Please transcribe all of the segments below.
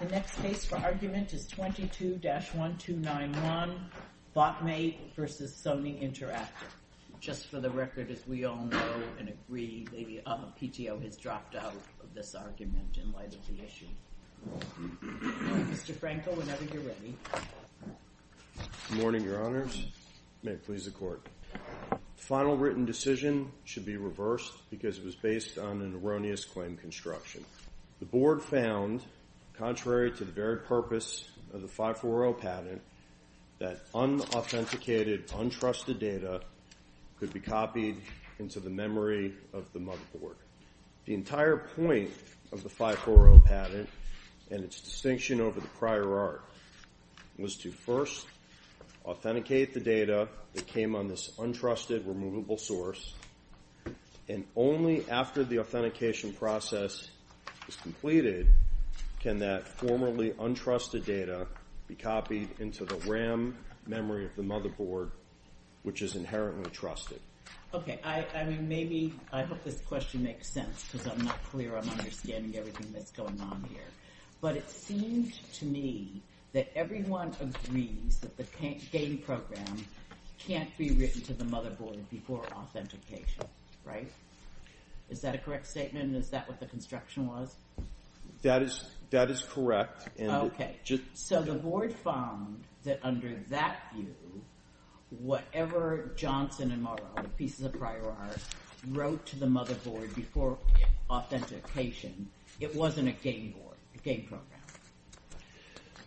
The next case for argument is 22-1291, Bot M8 v. Sony Interactive. Just for the record, as we all know and agree, Lady Amapitio has dropped out of this argument in light of the issue. Mr. Franco, whenever you're ready. Good morning, Your Honors. May it please the Court. The final written decision should be reversed because it was based on an erroneous claim construction. The Board found, contrary to the very purpose of the 540 patent, that unauthenticated, untrusted data could be copied into the memory of the mug board. The entire point of the 540 patent and its distinction over the prior art was to first authenticate the data that came on this untrusted, removable source, and only after the authentication process is completed can that formerly untrusted data be copied into the RAM memory of the motherboard, which is inherently trusted. Okay. I mean, maybe, I hope this question makes sense because I'm not clear. I'm understanding everything that's going on here. But it seems to me that everyone agrees that game programs can't be written to the motherboard before authentication, right? Is that a correct statement? Is that what the construction was? That is correct. So the Board found that under that view, whatever Johnson and Morrow, the pieces of prior art, wrote to the motherboard before authentication, it wasn't a game board, a game program.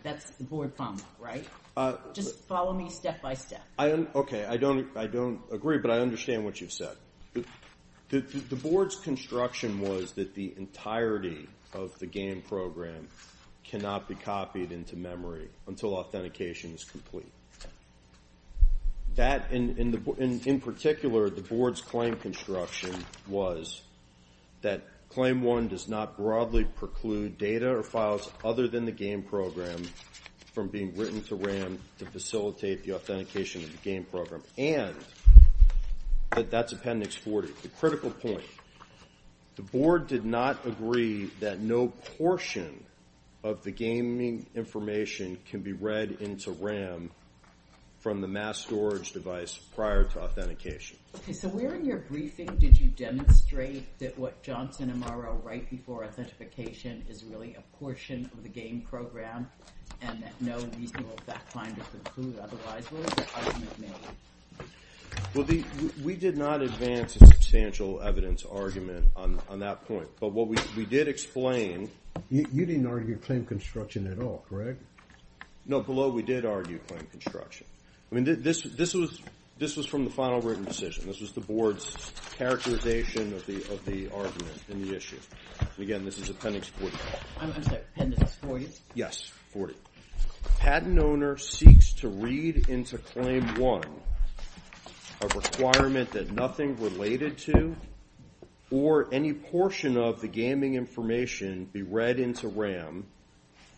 That's the Board problem, right? Just follow me step by step. I, okay, I don't agree, but I understand what you've said. The Board's construction was that the entirety of the game program cannot be copied into memory until authentication is complete. That, in particular, the Board's claim construction was that claim one does not the game program from being written to RAM to facilitate the authentication of the game program, and that that's Appendix 40. The critical point, the Board did not agree that no portion of the gaming information can be read into RAM from the mass storage device prior to authentication. Okay. So where in your briefing did you demonstrate that what Johnson and Morrow right before authentication is really a portion of the game program, and that no reasonable back line is included? Otherwise, what was the argument made? Well, we did not advance a substantial evidence argument on that point, but what we did explain... You didn't argue claim construction at all, correct? No, below, we did argue claim construction. I mean, this was from the final written decision. This was the Board's characterization of the argument in the issue. Again, this is Appendix 40. I'm sorry, Appendix 40? Yes, 40. Patent owner seeks to read into claim one a requirement that nothing related to or any portion of the gaming information be read into RAM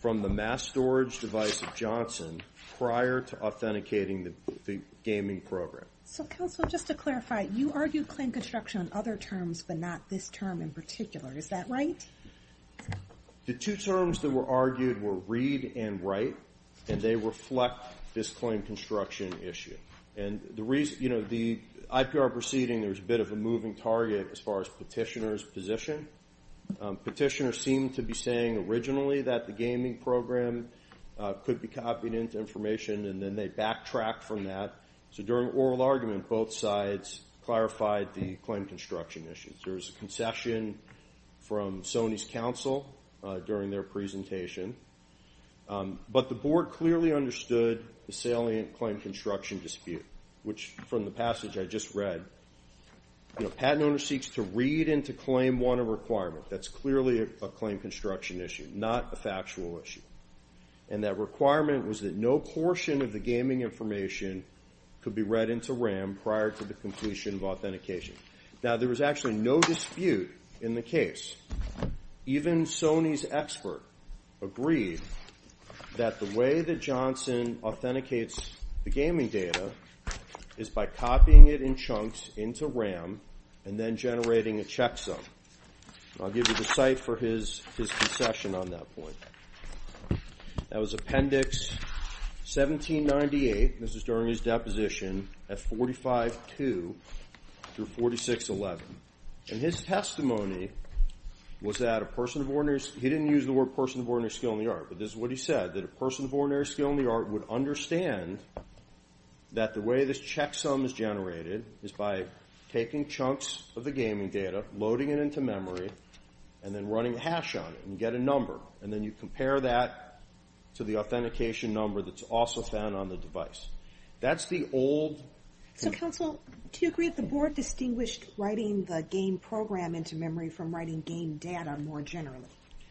from the mass storage device of Johnson prior to authenticating the gaming program. So, counsel, just to clarify, you argued claim construction on other terms, but not this term in particular. Is that right? The two terms that were argued were read and write, and they reflect this claim construction issue. And the reason, you know, the IPR proceeding, there was a bit of a moving target as far as petitioner's position. Petitioner seemed to be saying originally that the gaming program could be copied into information, and then they backtracked from that. So, during oral argument, both sides clarified the claim construction issues. There was a concession from Sony's counsel during their presentation, but the Board clearly understood the salient claim construction dispute, which from the passage I just read, you know, patent owner seeks to read into claim one a requirement. That's clearly a claim construction issue, not a factual issue. And that requirement was that no portion of the gaming information could be read into RAM prior to the completion of authentication. Now, there was actually no dispute in the case. Even Sony's expert agreed that the way that Johnson authenticates the gaming data is by copying it in chunks into RAM and then generating a checksum. I'll give you the site for his concession on that point. That was Appendix 1798. This is during his deposition at 45.2 through 46.11. And his testimony was that a person of ordinary, he didn't use the word person of ordinary skill in the art, but this is what he said, that a person of ordinary skill in the art would understand that the way this checksum is generated is by taking chunks of the gaming data, loading it into memory, and then running a hash on it and get a number. And then you compare that to the authentication number that's also found on the device. That's the old... So, counsel, do you agree that the board distinguished writing the game program into memory from writing game data more generally?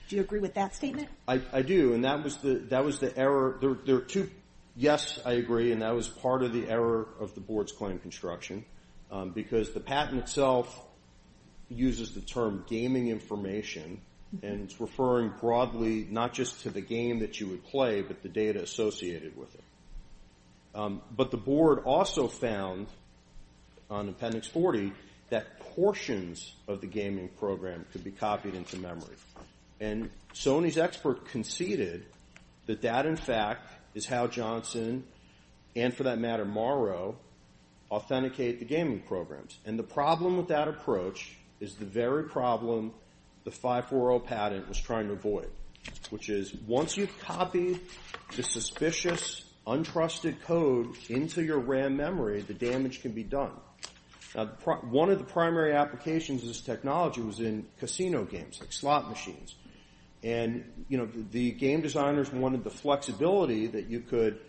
Do you agree with that statement? I do. And that was the error. Yes, I agree. And that was part of the error of the board's claim construction because the patent itself uses the term gaming information. And it's referring broadly not just to the game that you would play, but the data associated with it. But the board also found on Appendix 40 that portions of the gaming program could be copied into memory. And Sony's expert conceded that that, in fact, is how Johnson and, for that matter, Morrow authenticate the gaming programs. And the problem with that approach is the very problem the 540 patent was trying to avoid, which is once you've copied the suspicious, untrusted code into your RAM memory, the damage can be done. Now, one of the primary applications of this technology was in casino games like slot machines. And the game designers wanted the flexibility that you could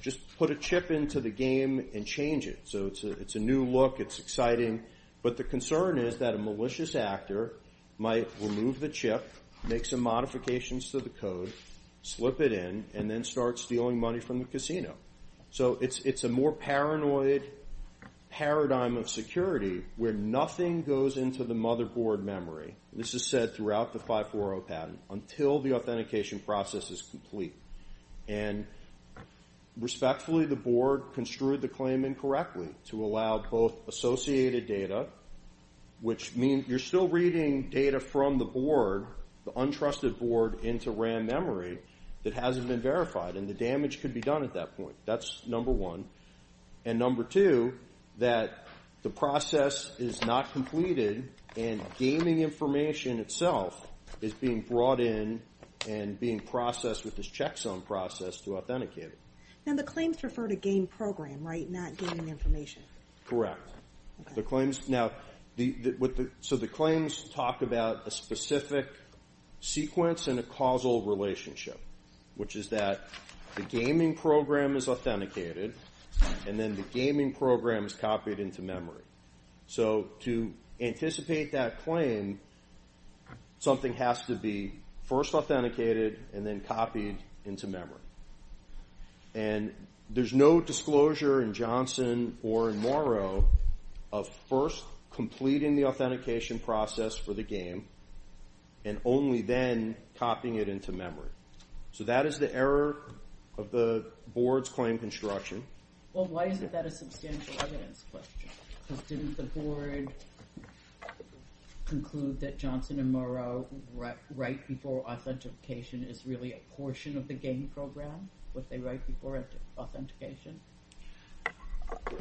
just put a chip into the game and change it. So it's a new look. It's exciting. But the concern is that a malicious actor might remove the chip, make some modifications to the code, slip it in, and then start stealing money from the casino. So it's a more paranoid paradigm of security where nothing goes into the motherboard memory, this is said throughout the 540 patent, until the authentication process is complete. And respectfully, the board construed the claim incorrectly to allow both associated data, which means you're still reading data from the board, the untrusted board, into RAM memory that hasn't been verified. And the damage could be done at that point. That's number one. And number two, that the process is not completed and gaming information itself is being brought in and being processed with this check zone process to authenticate it. Now, the claims refer to game program, right? Not gaming information. Correct. So the claims talk about a specific sequence and a causal relationship, which is that the gaming program is authenticated and then the gaming program is copied into memory. So to anticipate that claim, something has to be first authenticated and then copied into memory. And there's no disclosure in Johnson or in Morrow of first completing the authentication process for the game and only then copying it into memory. So that is the error of the board's construction. Well, why is that a substantial evidence question? Because didn't the board conclude that Johnson and Morrow write before authentication is really a portion of the game program, what they write before authentication?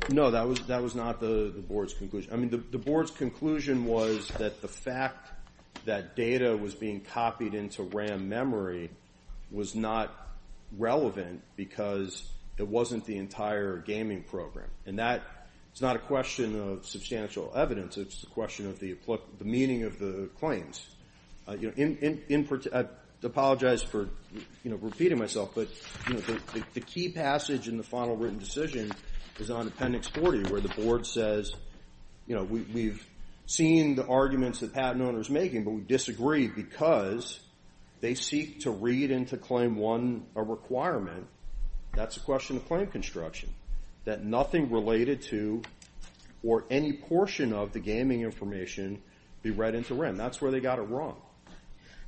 No, that was not the board's conclusion. I mean, the board's conclusion was that the fact that data was being copied into RAM memory was not relevant because it wasn't the entire gaming program. And that is not a question of substantial evidence. It's a question of the meaning of the claims. I apologize for repeating myself, but the key passage in the final written decision is on appendix 40, where the board says, we've seen the arguments that patent owner's making, but we disagree because they seek to claim one requirement. That's a question of claim construction that nothing related to or any portion of the gaming information be read into RAM. That's where they got it wrong.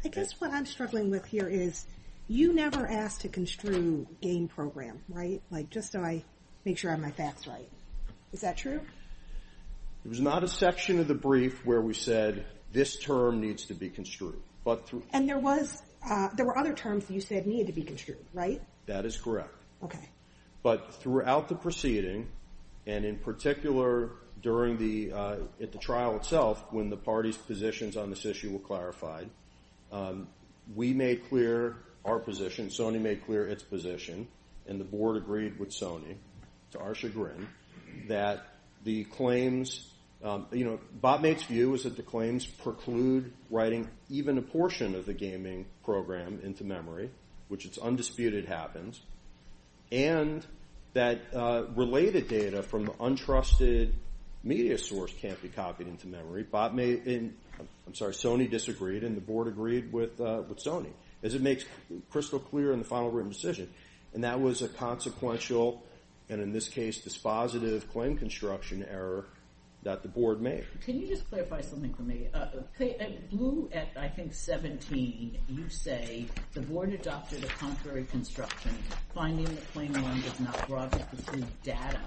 I guess what I'm struggling with here is you never asked to construe game program, right? Like just so I make sure I have my facts right. Is that true? It was not a section of the brief where we said this term needs to be construed. And there were other terms you said needed to be construed, right? That is correct. But throughout the proceeding, and in particular during the trial itself, when the party's positions on this issue were clarified, we made clear our position, Sony made clear its position, and the board agreed with Sony, to our chagrin, that the claims, you know, BopMate's view is that the claims preclude writing even a portion of the gaming program into memory, which it's undisputed happens, and that related data from the untrusted media source can't be copied into memory. Sony disagreed, and the board agreed with Sony, as it makes crystal clear in the final written decision. And that was a consequential, and in this case, dispositive claim construction error that the board made. Can you just clarify something for me? Blue, at I think 17, you say the board adopted a contrary construction, finding the claim line does not broadcast the same data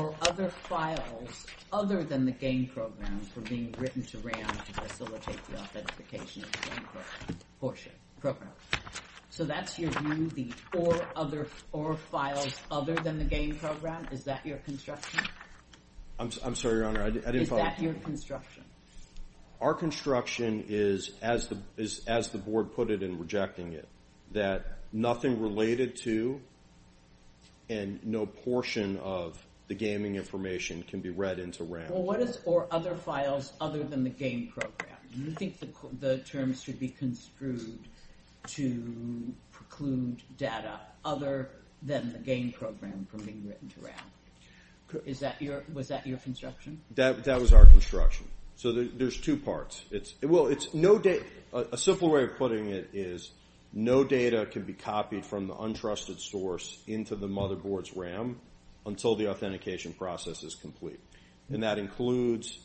or other files, other than the game program, for being written to RAM to facilitate the authentication of the game program. So that's your view, the or other, or files other than the game program? Is that your construction? I'm sorry, Your Honor, I didn't follow. Is that your construction? Our construction is, as the board put it in rejecting it, that nothing related to, and no portion of the gaming information can be read into RAM. Well, what is or other files other than the game program? Do you think the terms should be construed to preclude data other than the game program from being written to RAM? Was that your construction? That was our construction. So there's two parts. Well, it's no data, a simple way of putting it is no data can be copied from the untrusted source into the motherboard's RAM until the authentication process is complete. And that includes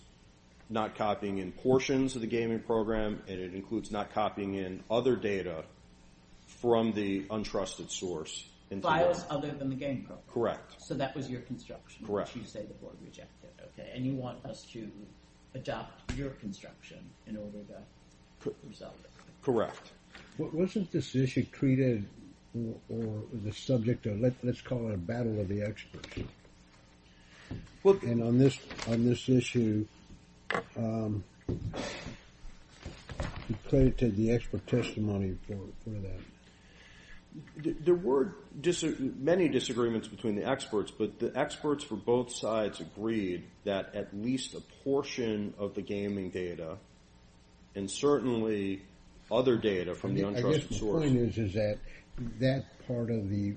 not copying in portions of the gaming program, and it includes not copying in other data from the untrusted source. Files other than the game program. Correct. So that was your construction, which you say the board rejected. Okay. And you want us to adopt your construction in order to resolve it. Correct. Wasn't this issue treated or the subject of, let's call it a battle of the experts. And on this issue, you credited the expert testimony for that. There were many disagreements between the experts, but the experts for both sides agreed that at least a portion of the gaming data, and certainly other data from the untrusted source. I guess my point is that part of the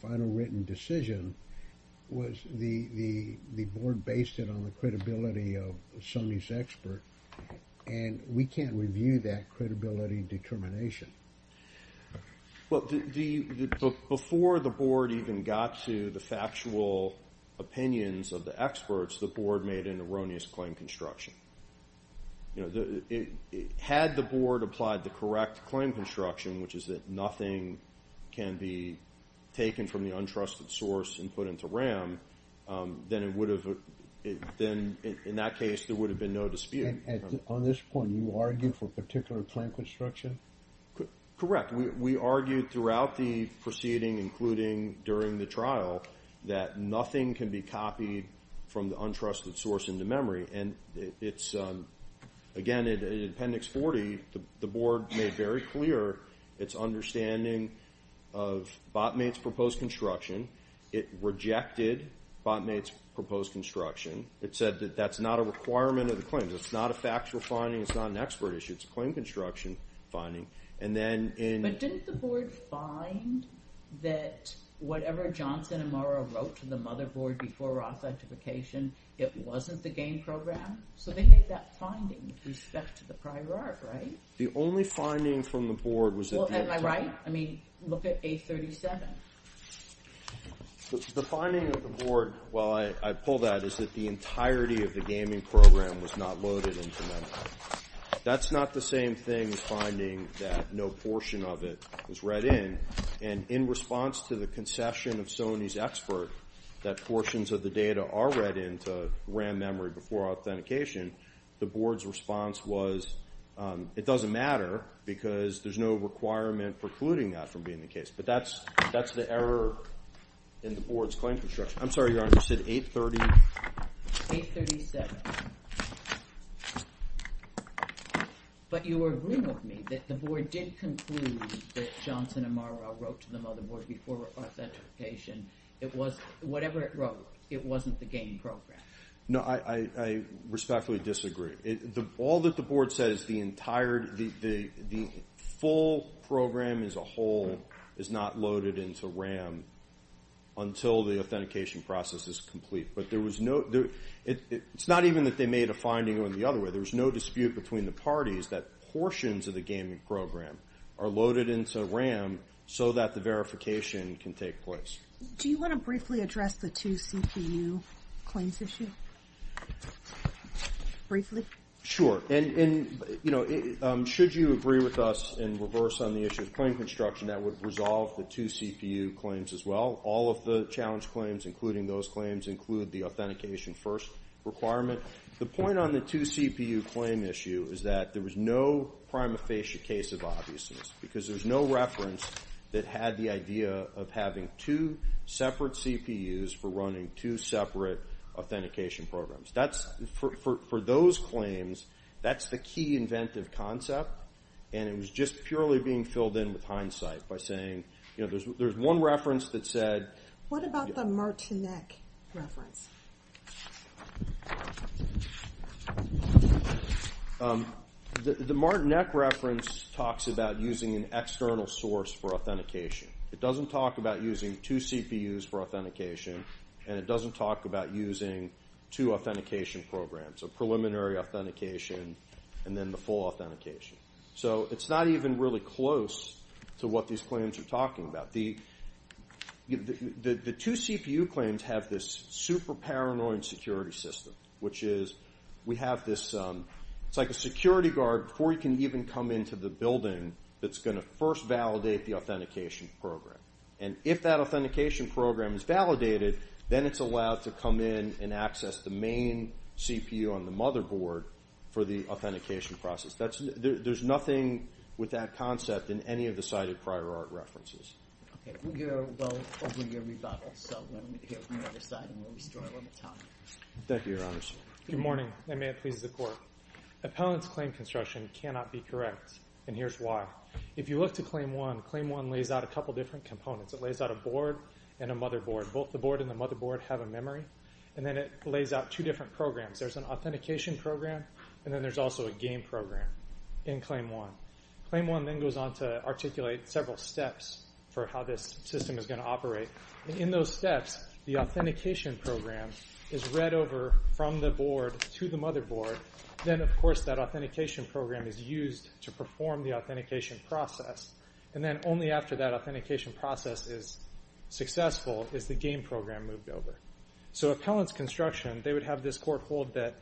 final written decision was the board based it on the credibility of Sony's expert. And we can't review that credibility determination. Well, before the board even got to the factual opinions of the experts, the board made an erroneous claim construction. Had the board applied the correct claim construction, which is that nothing can be taken from the untrusted source and put into RAM, then in that case, there would have been no dispute. On this point, you argue for particular claim construction? Correct. We argued throughout the proceeding, including during the trial, that nothing can be copied from the untrusted source into memory. And it's, again, in appendix 40, the board made very clear its understanding of Botmate's proposed construction. It rejected Botmate's proposed construction. It said that that's not a requirement of the claims. It's not a factual finding. It's not an expert issue. It's a claim construction finding. But didn't the board find that whatever Johnson and Morrow wrote to the motherboard before Roth's identification, it wasn't the game program? So they made that finding with respect to the prior art, right? The only finding from the board was that the- Well, am I right? I mean, look at A37. The finding of the board, while I pull that, is that the entirety of the gaming program was not loaded into memory. That's not the same thing as finding that no portion of it was read in. And in response to the concession of Sony's expert that portions of the data are read into RAM memory before authentication, the board's response was, it doesn't matter because there's no requirement precluding that from being the case. But that's the error in the board's claim construction. I'm sorry, Your Honor. You said 830? 837. But you were agreeing with me that the board did conclude that Johnson and Morrow wrote to the motherboard before authentication. Whatever it wrote, it wasn't the game program. No, I respectfully disagree. All that the board said is the full program as a whole is not loaded into RAM until the authentication process is complete. But there was no- it's not even that they made a finding on the other way. There was no dispute between the parties that portions of the gaming program are loaded into RAM so that the verification can take place. Do you want to briefly address the two CPU claims issue? Briefly? Sure. And, you know, should you agree with us in reverse on the issue of claim construction, that would resolve the two CPU claims as well? All of the challenge claims, including those requirement- the point on the two CPU claim issue is that there was no prima facie case of obviousness because there's no reference that had the idea of having two separate CPUs for running two separate authentication programs. That's- for those claims, that's the key inventive concept. And it was just purely being filled in with hindsight by saying, you know, there's one reference that said- What about the Martinek reference? The Martinek reference talks about using an external source for authentication. It doesn't talk about using two CPUs for authentication, and it doesn't talk about using two authentication programs, a preliminary authentication and then the full authentication. So it's not even really close to what these claims are talking about. The two CPU claims have this super paranoid security system, which is we have this- it's like a security guard before you can even come into the building that's going to first validate the authentication program. And if that authentication program is validated, then it's allowed to come in and access the main CPU on the motherboard for the authentication process. That's- there's nothing with that concept in any of the cited prior art references. Okay, we'll get our vote over your rebuttal. So let me hear from the other side and we'll restore a little time. Thank you, Your Honor. Good morning, and may it please the Court. Appellant's claim construction cannot be correct, and here's why. If you look to Claim 1, Claim 1 lays out a couple different components. It lays out a board and a motherboard. Both the board and the motherboard have a memory, and then it lays out two different programs. There's an authentication program, and then there's also a game program in Claim 1. Claim 1 then goes on to articulate several steps for how this system is going to operate. And in those steps, the authentication program is read over from the board to the motherboard. Then, of course, that authentication program is used to perform the authentication process. And then only after that authentication process is successful is the game program moved over. So Appellant's construction, they would have this court hold that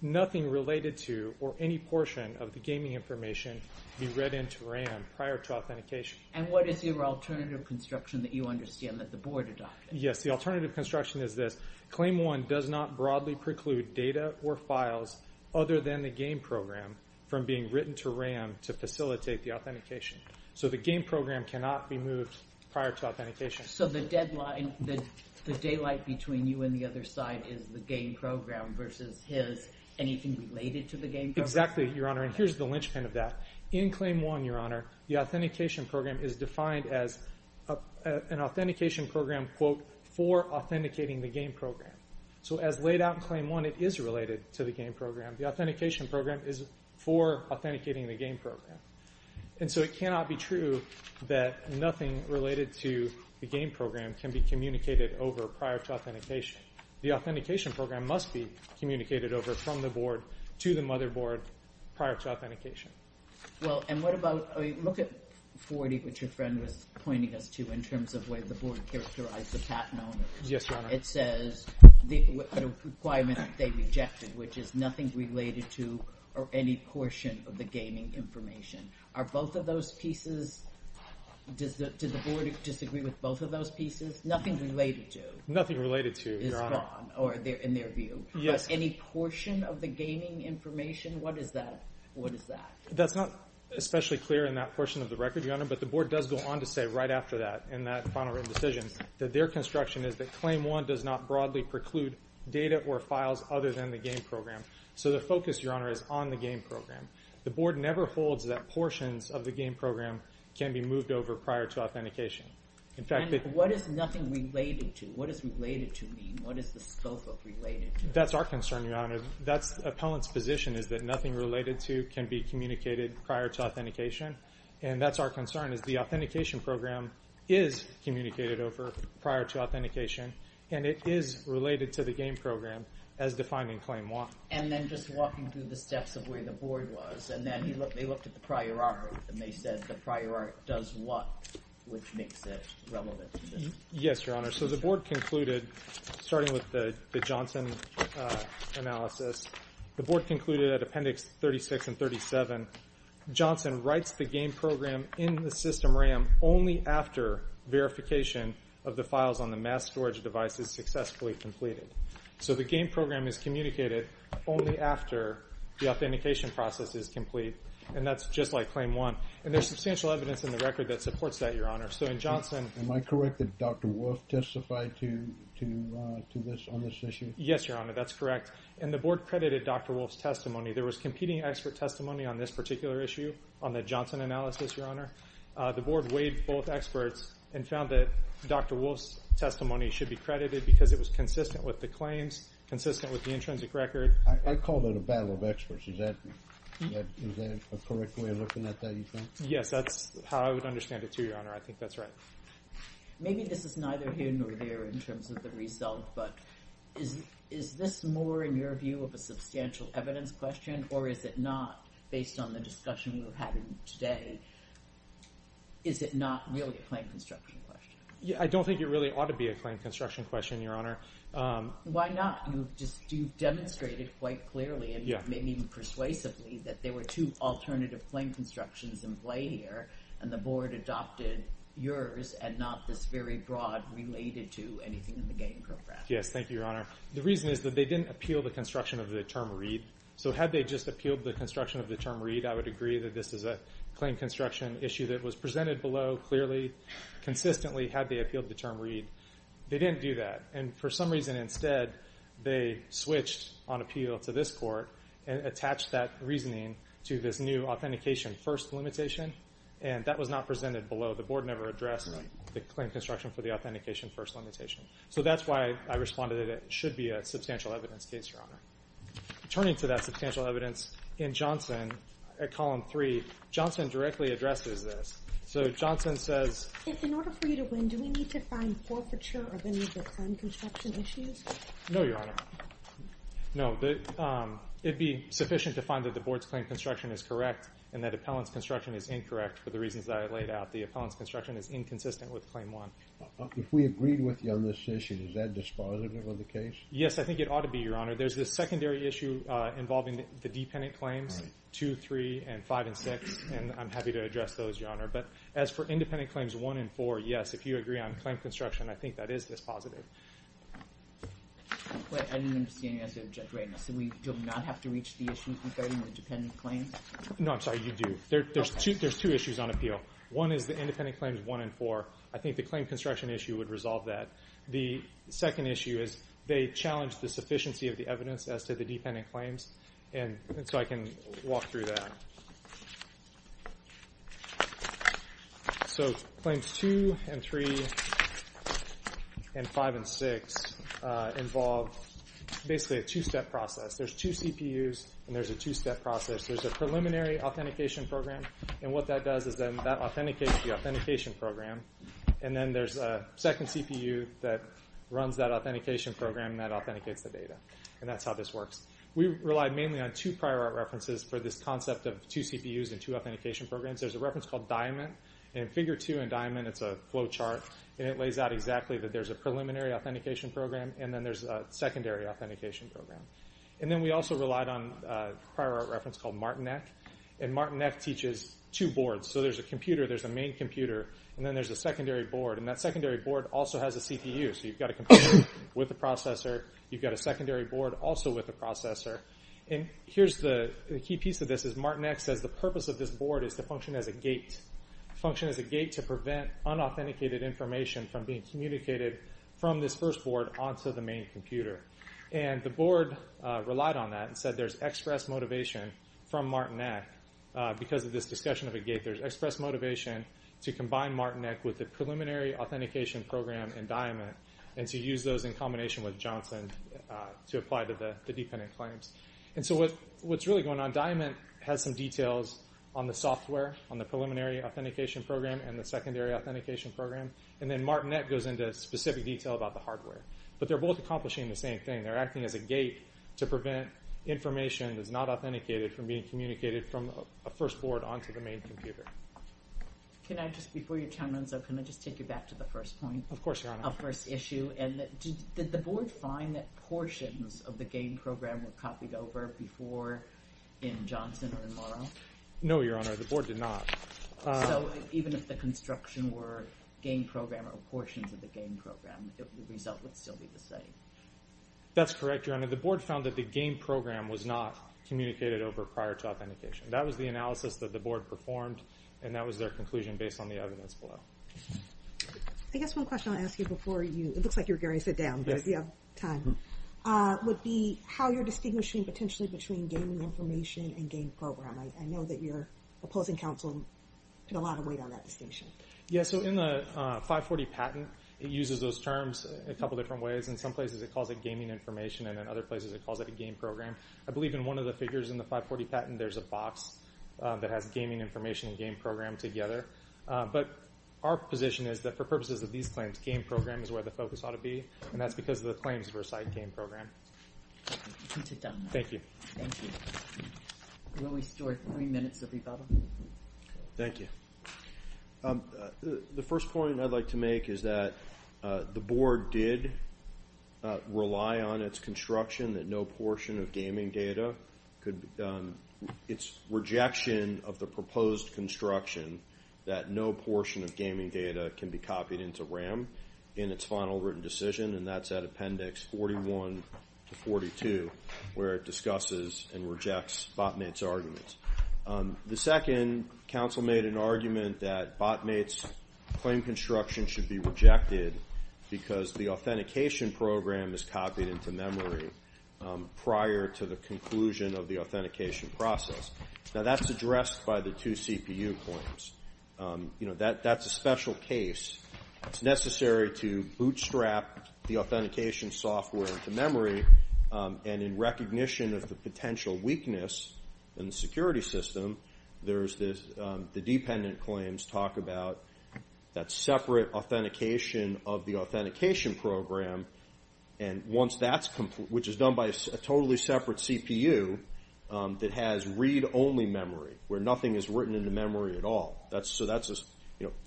nothing related to or any portion of the gaming information be read into RAM prior to authentication. And what is your alternative construction that you understand that the board adopted? Yes, the alternative construction is this. Claim 1 does not broadly preclude data or files other than the game program from being written to RAM to facilitate the authentication. So the game program cannot be moved prior to authentication. So the deadline, the daylight between you and the other side is the game program versus his. Anything related to the game program? Exactly, Your Honor. And here's the linchpin of that. In Claim 1, Your Honor, the authentication program is defined as an authentication program, quote, for authenticating the game program. So as laid out in Claim 1, it is related to the game program. The authentication program is for authenticating the game program. And so it cannot be true that nothing related to the game program can be communicated over prior to authentication. The authentication program must be communicated over from the board to the motherboard prior to authentication. Well, and what about, I mean, look at 40, which your friend was pointing us to in terms of the way the board characterized the patent owners. Yes, Your Honor. It says, the requirement that they rejected, which is nothing related to or any portion of the gaming information. Are both of those pieces, does the board disagree with both of those pieces? Nothing related to. Nothing related to, Your Honor. Is gone, or in their view. Yes. Any portion of the gaming information? What is that? That's not especially clear in that portion of the record, Your Honor, but the board does go on to say right after that, in that final written decision, that their construction is that Claim 1 does not broadly preclude data or files other than the game program. So the focus, Your Honor, is on the game program. The board never holds that portions of the game program can be moved over prior to authentication. And what is nothing related to? What does related to mean? What is the scope of related to? That's our concern, Your Honor. That's appellant's position is that nothing related to can be communicated prior to authentication. And that's our concern, is the authentication program is communicated over prior to authentication, and it is related to the game program as defined in Claim 1. And then just walking through the steps of where the board was, and then they looked at the prior art, and they said the prior art does what, which makes it relevant to this? Yes, Your Honor. So the board concluded, starting with the Johnson analysis, the board concluded at Appendix 36 and 37, Johnson writes the game program in the system RAM only after verification of the files on the mass storage devices successfully completed. So the game program is communicated only after the authentication process is complete, and that's just like Claim 1. And there's substantial evidence in the record that supports that, Your Honor. So in Johnson Am I correct that Dr. Wolfe testified to this, on this issue? Yes, Your Honor, that's correct. And the board credited Dr. Wolfe's testimony. There was competing expert testimony on this particular issue, on the Johnson analysis, Your Honor. The board weighed both experts and found that Dr. Wolfe's testimony should be credited because it was consistent with the claims, consistent with the intrinsic record. I called it a battle of experts. Is that a correct way of looking at that, you think? Yes, that's how I would understand it, too, Your Honor. I think that's right. Maybe this is neither here nor there in terms of the result, but is this more, in your view, of a substantial evidence question, or is it not, based on the discussion we've had today, is it not really a claim construction question? I don't think it really ought to be a claim construction question, Your Honor. Why not? You've demonstrated quite clearly, and maybe even persuasively, that there were two alternative claim constructions in play here, and the board adopted yours and not this very broad, related-to-anything-in-the-game program. Yes, thank you, Your Honor. The reason is that they didn't appeal the construction of the term read. So had they just appealed the construction of the term read, I would agree that this is a claim construction issue that was presented below clearly, consistently, had they appealed the term read. They didn't do that. And for some reason, instead, they switched on appeal to this court and attached that reasoning to this new authentication-first limitation, and that was not presented below. The board never addressed the claim construction for the authentication-first limitation. So that's why I responded that it should be a substantial evidence case, Your Honor. Turning to that substantial evidence, in Johnson, at Column 3, Johnson directly addresses this. So Johnson says... In order for you to win, do we need to find forfeiture of any of the claim construction issues? No, Your Honor. No. It'd be sufficient to find that the board's claim construction is correct and that appellant's construction is incorrect for the reasons that I laid out. The appellant's construction is inconsistent with Claim 1. If we agreed with you on this issue, is that dispositive of the case? Yes, I think it ought to be, Your Honor. There's this secondary issue involving the dependent claims, 2, 3, and 5, and 6, and I'm happy to address those, Your Honor. But as for independent claims 1 and 4, yes, if you agree on claim construction, I think that is dispositive. I didn't understand your answer, Judge Reynolds. So we do not have to reach the issue regarding the dependent claims? No, I'm sorry. You do. There's two issues on appeal. One is the independent claims 1 and 4. I think the claim construction issue would resolve that. The second issue is they challenge the sufficiency of the evidence as to the dependent claims, and so I can walk through that. So Claims 2 and 3 and 5 and 6 involve basically a two-step process. There's two CPUs and there's a two-step process. There's a preliminary authentication program, and what that does is then that authenticates the authentication program, and then there's a second CPU that runs that authentication program, and that authenticates the data, and that's how this works. We relied mainly on two prior art references for this concept of two CPUs and two authentication programs. There's a reference called Diamond, and in Figure 2 in Diamond, it's a flow chart, and it lays out exactly that there's a preliminary authentication program and then there's a secondary authentication program. And then we also relied on a prior art reference called Martinet, and Martinet teaches two boards. So there's a computer, there's a main computer, and then there's a secondary board, and that secondary board also has a CPU, so you've got a computer with a processor, you've got a secondary board also with a processor. And here's the key piece of this is Martinet says the purpose of this board is to function as a gate, function as a gate to prevent unauthenticated information from being communicated from this first board onto the main computer. And the board relied on that and said there's express motivation from Martinet because of this discussion of a gate. There's express motivation to combine Martinet with the preliminary authentication program in Diamond and to use those in combination with Johnson to apply to the dependent claims. And so what's really going on, Diamond has some details on the software, on the preliminary authentication program and the secondary authentication program, and then Martinet goes into specific detail about the hardware. But they're both accomplishing the same thing. They're acting as a gate to prevent information that's not authenticated from being communicated from a first board onto the main computer. Can I just, before your time runs out, can I just take you back to the first point? Of course, Your Honor. Of the first issue, and did the board find that portions of the game program were copied over before in Johnson or in Morrow? No, Your Honor, the board did not. So even if the construction were game program or portions of the game program, the result would still be the same? That's correct, Your Honor. The board found that the game program was not communicated over prior to authentication. That was the analysis that the board performed, and that was their conclusion based on the evidence below. I guess one question I'll ask you before you, it looks like you're going to sit down, because we have time, would be how you're distinguishing potentially between gaming information and game program. I know that your opposing counsel put a lot of weight on that distinction. Yeah, so in the 540 patent, it uses those terms a couple different ways. In some places it calls it gaming information, and in other places it calls it a game program. I believe in one of the figures in the 540 patent, there's a box that has gaming information and game program together. But our position is that for purposes of these claims, game program is where the focus ought to be, and that's because of the claims for a side game program. You can sit down. Thank you. Thank you. Will we store three minutes of rebuttal? Thank you. The first point I'd like to make is that the board did rely on its construction that no portion of gaming data could be done. It's rejection of the proposed construction that no portion of gaming data can be copied into RAM in its final written decision, and that's at Appendix 41 to 42, where it discusses and rejects BOTMATE's arguments. The second, counsel made an argument that BOTMATE's claim construction should be rejected because the authentication program is copied into memory prior to the conclusion of the authentication process. Now, that's addressed by the two CPU claims. That's a special case. It's necessary to bootstrap the authentication software into memory, and in recognition of the potential weakness in the security system, the dependent claims talk about that separate authentication of the authentication program, which is done by a totally separate CPU that has read-only memory, where nothing is written into memory at all. So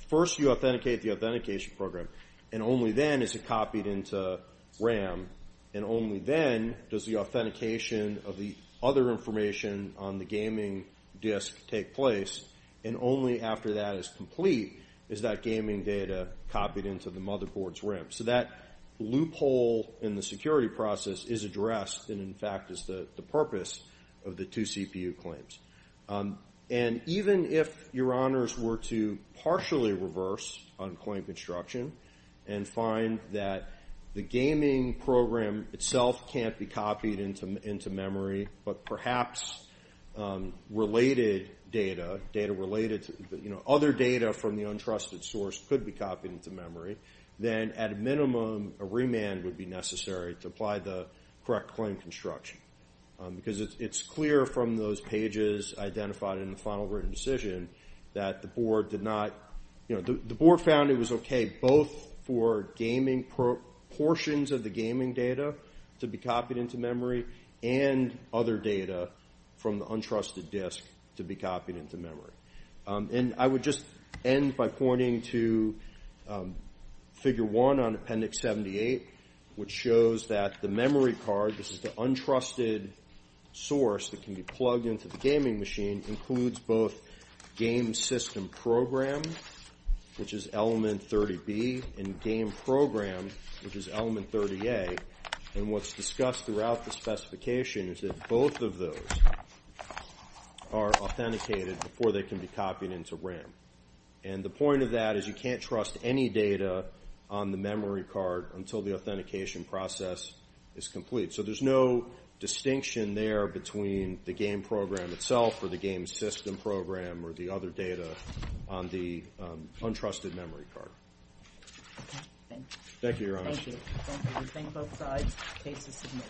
first you authenticate the authentication program, and only then is it copied into RAM, and only then does the authentication of the other information on the gaming disk take place, and only after that is complete is that gaming data copied into the motherboard's RAM. So that loophole in the security process is addressed and, in fact, is the purpose of the two CPU claims. And even if your honors were to partially reverse unclaimed construction and find that the gaming program itself can't be copied into memory, but perhaps related data, other data from the untrusted source could be copied into memory, then at a minimum a remand would be necessary to apply the correct claim construction because it's clear from those pages identified in the final written decision that the board did not – both for gaming – portions of the gaming data to be copied into memory and other data from the untrusted disk to be copied into memory. And I would just end by pointing to Figure 1 on Appendix 78, which shows that the memory card – this is the untrusted source that can be plugged into the gaming machine – which is Element 30A. And what's discussed throughout the specification is that both of those are authenticated before they can be copied into RAM. And the point of that is you can't trust any data on the memory card until the authentication process is complete. So there's no distinction there between the game program itself or the game system program or the other data on the untrusted memory card. Okay, thank you. Thank you, Your Honor. Thank you. Thank you. We thank both sides.